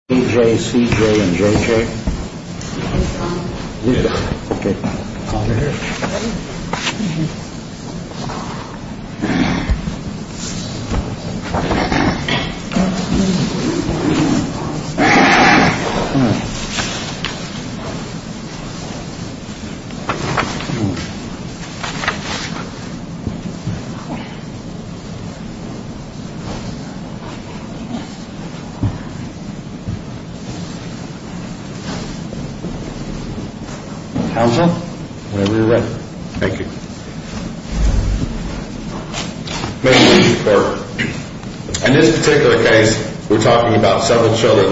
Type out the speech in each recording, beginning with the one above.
A. J. C. J. and J.J. AG Lumber. D.A. J. J. and J. A. J. A. J. J. J. and J. J. J. S. S. S. A. A. B. J. A. J. J. A. J. A. A. J. S. A. A. J. J. S. S. A. A. J. J. J. S. J. J. A. B. A. A. J. A. B. J. A. B. A. A. J. A. J. J. A. B. J. A. J. A. J. B. J. A. B. A. A. J. B. J. J. J. she J. A. B. J. A. She J. B. J. A. B. A. J. A. G. J AR J. B. G. J. A. J. A. B. J. G. B. A. G. G. A. B. B. G. J. A. A. G. B. J. B. J. A. A. G. G. J. A. G. B. G. J. A. B. G. A. B. G. J. A. B. A. B. B. B. A. O. Z. D. Q. G. I. A. H. M. Q. A. H. M. O. Z. Q. I. R. Z. H. M. O. Z. Q. I. H. M. O. Z. Q. I. H. M. O. Z. Q. I. R. O. Z. Q. I. H. O. Z. Q. I. H. M. O. Z. Q. I. R. O. Z. Q. I. Q. I. H. I. T. Q. H. H. H. Z. Q. I. L. O. Z. O. Z. Q. Ro. Z. H. Z. Z. Q. S. Q. H. I. L. Z. O. Z. O. Q. H. Z. O. Z. O. Q. H. I. L. Q. S. Q. O. H. L. Z. O. Q. H. I. L. Z. O. Q. Q. H. I. L. Z. H. L. Z. O. Q. I. O. Q. Q. B. Z. O. Q. H. L. Z. O. Q. Q. H. Q. K. L. Z. O. Q. K. I. Q. H. L. Z. O. Q. H. L. Z. O. Q. H. L. Z. O. Q. Q. Q. H. O. H. Z. O. T. K. I. Q. Q. Z. O. Q. H. L. Z. Q. O. Y. Q. Z. O. I. H. We. H. A. Z. O. H. There. M. H H. Q. M. H. Q. Z. O. H. Q. O. H. Z. O. H. Q. O. H. Z. O. H. Q. Q. O. H. Z. O. Q. What about the fact that he made absolutely no findings in the record? I mean, the statute does say that there shall be findings, so he doesn't even mention any real facts. This is not a guardianship case. It's a wardship case. That's because the statute is pretty clear. It's a wardship case, but the case went on. If you look at the past history of the case, this mother has been involved in services since 2008. That's even before the three children, as you hear, were born. So this is a problem that's been ongoing, and the case also, the intact family case with regard to these specific three children, began in 2016. Over time, the mother did nothing she was supposed to do, and with regard to any allegations against the father, if you look at the petition, at the point the petition was filed, he was listed as a putative father. This is an out-of-state father who, for all we know, didn't even know he was the father. Once he was determined to be the biological father, he stepped up and did everything he needed to do. With regard to the argument that there was some harm in having the statute complied with, I don't understand. I totally agree with you. I mean, I don't understand why the state wouldn't do it. I have no answer for you. I don't understand why the state wouldn't just let it go back, make the findings, and then... Well, we do argue in the alternative that if this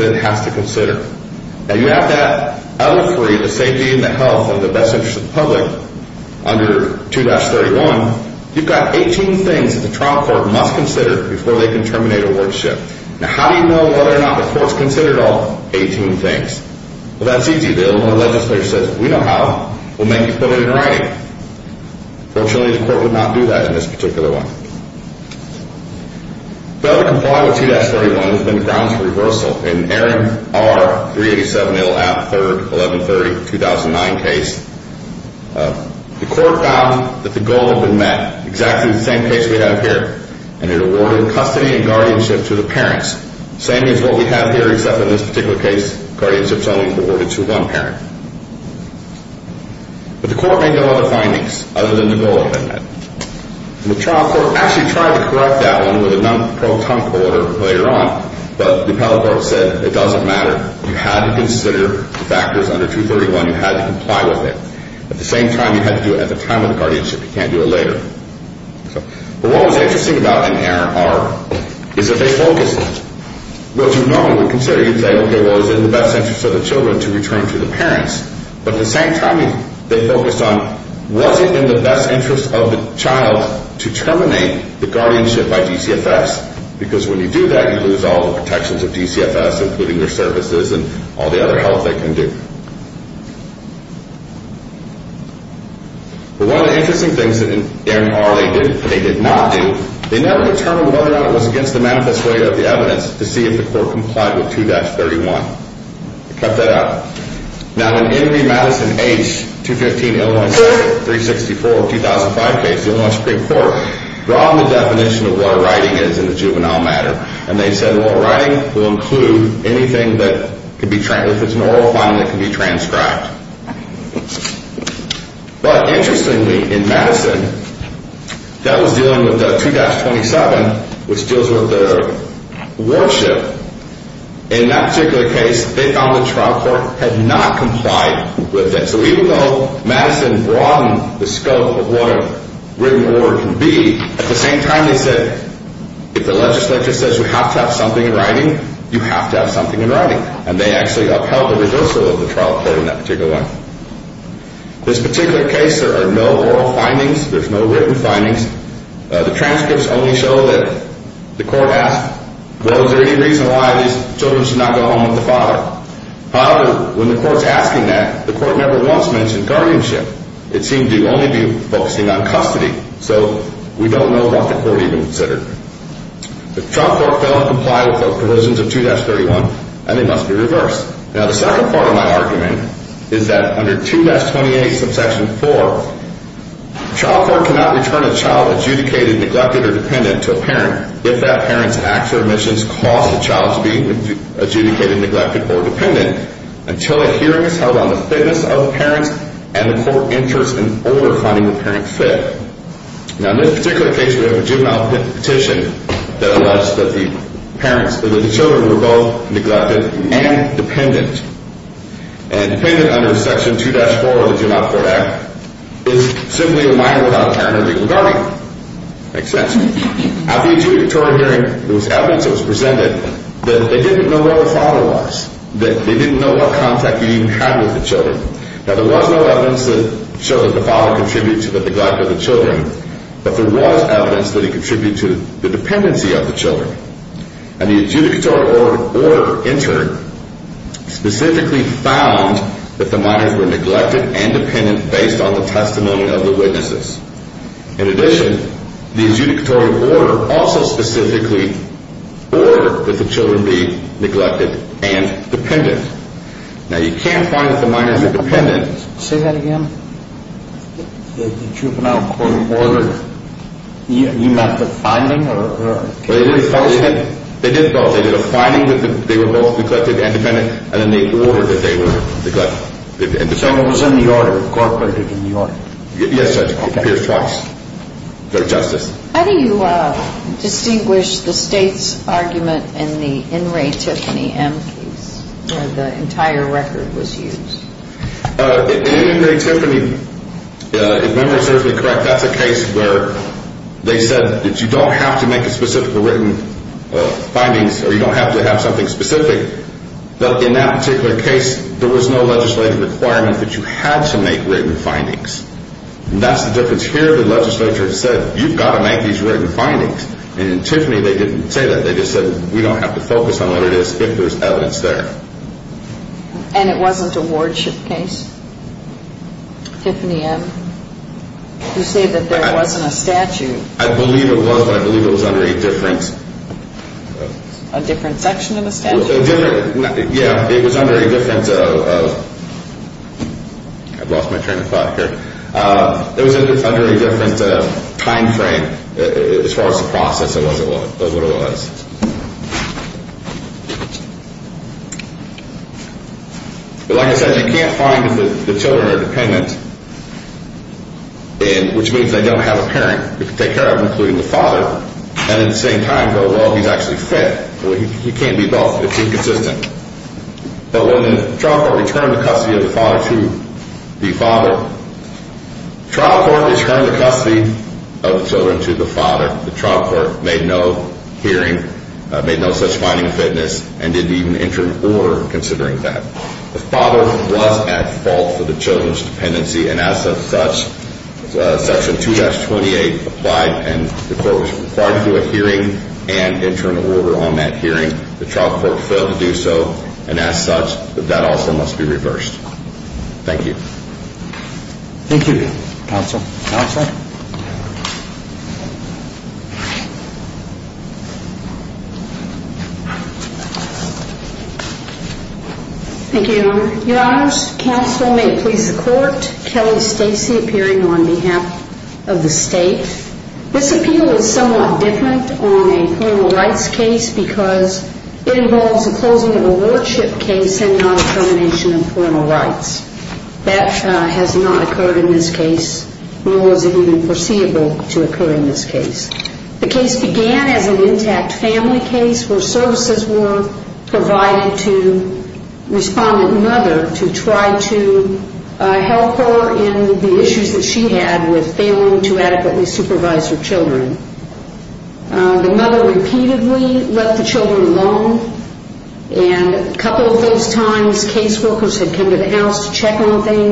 Court finds that the writing requirement was not satisfied here and that the remainder of the record fails to support that best interest determination, then the remedy certainly is a remand to the Trial Court for compliance with the Juvenile Court Act. If that's what this Court chooses to do, the state has no issue with that. Actually, the state sees nothing wrong with that step. It's just that before we get there, there were allegations in the petition, the juvenile and the punitive father, but none of those allegations were proven. So to come in and equate an unproven allegation as, oh, well, the father was responsible for this also, it's just simply not in line with what occurred in this case. There has to be proof by proponents of the evidence on an adjudication where there's no finding against that parent. The finding is against the mother, and if you look at the adjudicatory order, it specifically indicates which witnesses were called. A Madeline Walker, and this is at Respondent's Exhibit at the back of the brief, A4 through A5, the adjudicatory order. It lists the witnesses called Madeline Walker, Deanna Luckett, and then the mother was called. All of those witnesses testified about the mother's involvement or lack of involvement with the children. No testimony whatsoever was presented with regard to the father in this case. What was presented about the father? I mean, in your argument in the briefs, it talks about the status of the father and employment and the home situation and having a relationship and everything. Is that in the record? Yes, Your Honor. It is in the record. And what we initially have is the order, the adjudicatory order, and then the finding that lordship is in the best interest of the child. Opening the case and then making sure services are provided to both parents. And then we have client service plans, a number of these, and each one of these. What was the source of the, of the, of a determination of the status of the father? Was that through the service plan and the people involved in the agency? Exactly, Your Honor. It's through the service plan and the agency representatives who are tasked with determining whether or not people are on track with their goals. And then they provide the written reports to the court. But the court doesn't really mention, I'm sorry. The court doesn't really mention that it's even read those. We have to presume that, right? I believe the orders actually do mention, or at least in the hearings, they mention these records were received and each party would have had an opportunity to present information at the hearings. And when it came down to looking at, okay, what are we going to do with this guardianship case? Respondent's attorney, respondent mother's attorney said, this looks to me like a race to see who's going to be able to complete their services first. The mother failed to show for her domestic violence classes. She did not have adequate housing. She was evicted from two or three places. I don't, I don't see this case as who wins. I see this case as why, why the father was given the wardship. I don't see us deciding the merits here. Do you? Maybe I'm misunderstanding. Why the father was given the wardship. I'm just saying, there's no findings. So how do we know? How do we know? So I understand the case. The agencies recommended return to the father because he was making progress. He had a job. He maintained visitation. His visits were appropriate. If you look at the visits of the mother, she relied on her own mother to try to come in and be the disciplinarian. The visits were very chaotic and unorganized when it was with the biological mother. Looking at the record as a whole, excuse me, looking at the record as a whole, and the narration by the agencies as to the situation of the father, do you, is it your position that that constitutes substantial compliance or that it does not adequately need substantial compliance and should be referred back to specific findings backed by the trial court? That's an interesting question, Your Honor. And if I understand the question adequately, I have to say I completely agree with opposing counsel that this award fails to address the best interest. The written order fails in that regard. No doubt about that. I can't come in here and argue anything different. I believe that the record in the case supports the finding of the court that the father was the appropriate person for the custody and guardianship of the case. Whether this court agrees and whether or not that meets the best interest standard I think is best left to the court. Certainly, my opinion is the right result was reached and I think that's why you cited the Tiffany M case is that if the right result is reached, then the court can look at the underlying basis for that. But it was clear from the very outset of this case the father had made substantial progress for setting up a home for the children, a four-bedroom home for all three children, stable employment. Everything was set up for the kids. His visits went really well. The only time he missed visits was when he had a change in jobs. Everything he did was for the betterment of the family and for the kids to be able to come back home. The kids, by the end of the guardianship in this case, when we closed the case, they could not have returned to their mother because she didn't have suitable living arrangements. So that's why I'm saying the record does support that the best place for the kids would have been with the father who had stable employment. And the only reason the case went on longer than that was because originally the case workers thought they needed to comply with the Interstate Combat Act and needed to do a whole study on the father's home in Missouri. Was that ever completed? The whole study never was completed. At least it's not in this record. If it happened after that, I'm not aware of that. But the court said they needed to have this. Go ahead and lie down. The court and the assistant state's attorney indicated we don't need to have that home study. DCFS has already checked out this home. It's appropriate for the children. And so this looks like the right place for these children. If this court is of the opinion that that order, the written order, fails to provide adequate notice to the mother, because that's one of the considerations, and fails to set out the permanency in a proper way, then I think the best course is, and the proper course in that case would be, a remand to the trial court to enter written findings in compliance with the Juvenile Court Act. And it sounds like that's where this court might be headed. One final note I would have is that the state had misidentified which Aaron case respondents cited, and the state filed a motion to cite additional authority. At this time, I believe the state can withdraw that. Because if that is a case listed on the respondent's brief, then certainly it's fine for the state to bring that up now. I just regret that I missed Aaron R. versus Aaron L., and didn't want it to go by without addressing that with the public. Are you formally then withdrawing your motion? I will withdraw the motion to cite additional authority. I believe that's not needed in this case. I think Madison H. indicates that strict compliance is not required, that you can't look to the remainder of the record. Whether that supports it is up to the determination of this court. But we would respectfully ask you to affirm. In the alternative, if you feel you do not have enough information to affirm or that the trial court's oral findings do not provide adequate information on best interest, then the state suggests a limited remand for that to be accomplished. If no more questions, thank you. Thank you, Counsel. Thank you. Opposing counsel has argued manifest way to the evidence and she's done quite a bit in her briefs. And the problem with manifest way to the evidence is that's not before the court today. That's before the court today, the trial court complied with Illinois statutes. Has nothing to do with manifest way to the evidence. Nowhere in the statute does it say that, well, this doesn't count unless you, if the manifest way to the evidence is behind it. Really what they're making is they're making an implied harmless error statement. But for the court to allow... Well, I think making a substantial compliance argument. I may have misspoken. Okay. But the rest of these things, it doesn't matter. I'm sorry? The rest of these things, it doesn't matter. Well, the trial court did or did not do because the evidence could show us in the long run that maybe it was better to give the children to the father. However, they never considered the best interest of the children to even determine whether it was in the best interest to terminate the DTFS guardianship. What about all these services? Opposing counsel said, well, maybe this father was listed as a putrefather. Maybe he didn't know he was the father. Here's three children. Not one, three. How do you not know you have three kids? And DTFS did testify that there was some involvement with the father. It was just very, very limited. He knew there was children. There's no question about that. When you look at the different cases, you look at Aaron R. and you look at specifically Madison H. In those cases, the court's looking to see whether or not there was compliance. And I disagree with counsel's argument. She says that medicine does not require strict compliance. It does require strict compliance. What it says is we brought in the definition of what a writing is, but you still have to comply with that particular statute. And in Madison, they said even though we brought in this particular definition, this trial court still didn't do what they were supposed to, which was make written factual findings under 2 Test 27. So the court in Madison H. and Aaron specifically did not focus on whether or not the manifest weight of the evidence okayed it. Instead, they looked and said, this is what the law says you have to do. You didn't do it. And they reversed it. The proper remedy for this is that the court should send this back to the trial court. The trial court would have to make a finding under 2-31. So it's not just doing the formal order. They would actually have to make such findings. But more importantly, they also have to do a hearing under 228. The court just can't make findings without a hearing. It requires a hearing and an order in advance. And as such, I would request that you send this back to the trial court and have them comply with both 2-31 and 2-28. Do you think there has to be two hearings? No, I didn't get one hearing. One hearing under... Would you give me the statutory numbers again? Which... He said there has to be a hearing under two different statutes. Yeah, correct. 2-31 says that you must make the findings. Okay. And then 2-28 says you must actually have a hearing to determine whether the father is fit and then enter an order on such. Okay. So you want... You're asking for the relief that there be a remand for a hearing on findings and then also to determine whether the father is fit. Correct. It would be one court proceeding. Right. Okay. I just... I always like to ask what the relief is. Okay. Thank you. Any other questions? I don't believe we do. Thank you, counsel. Thank you. We appreciate the briefs and arguments of counsel to take the case under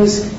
advisement.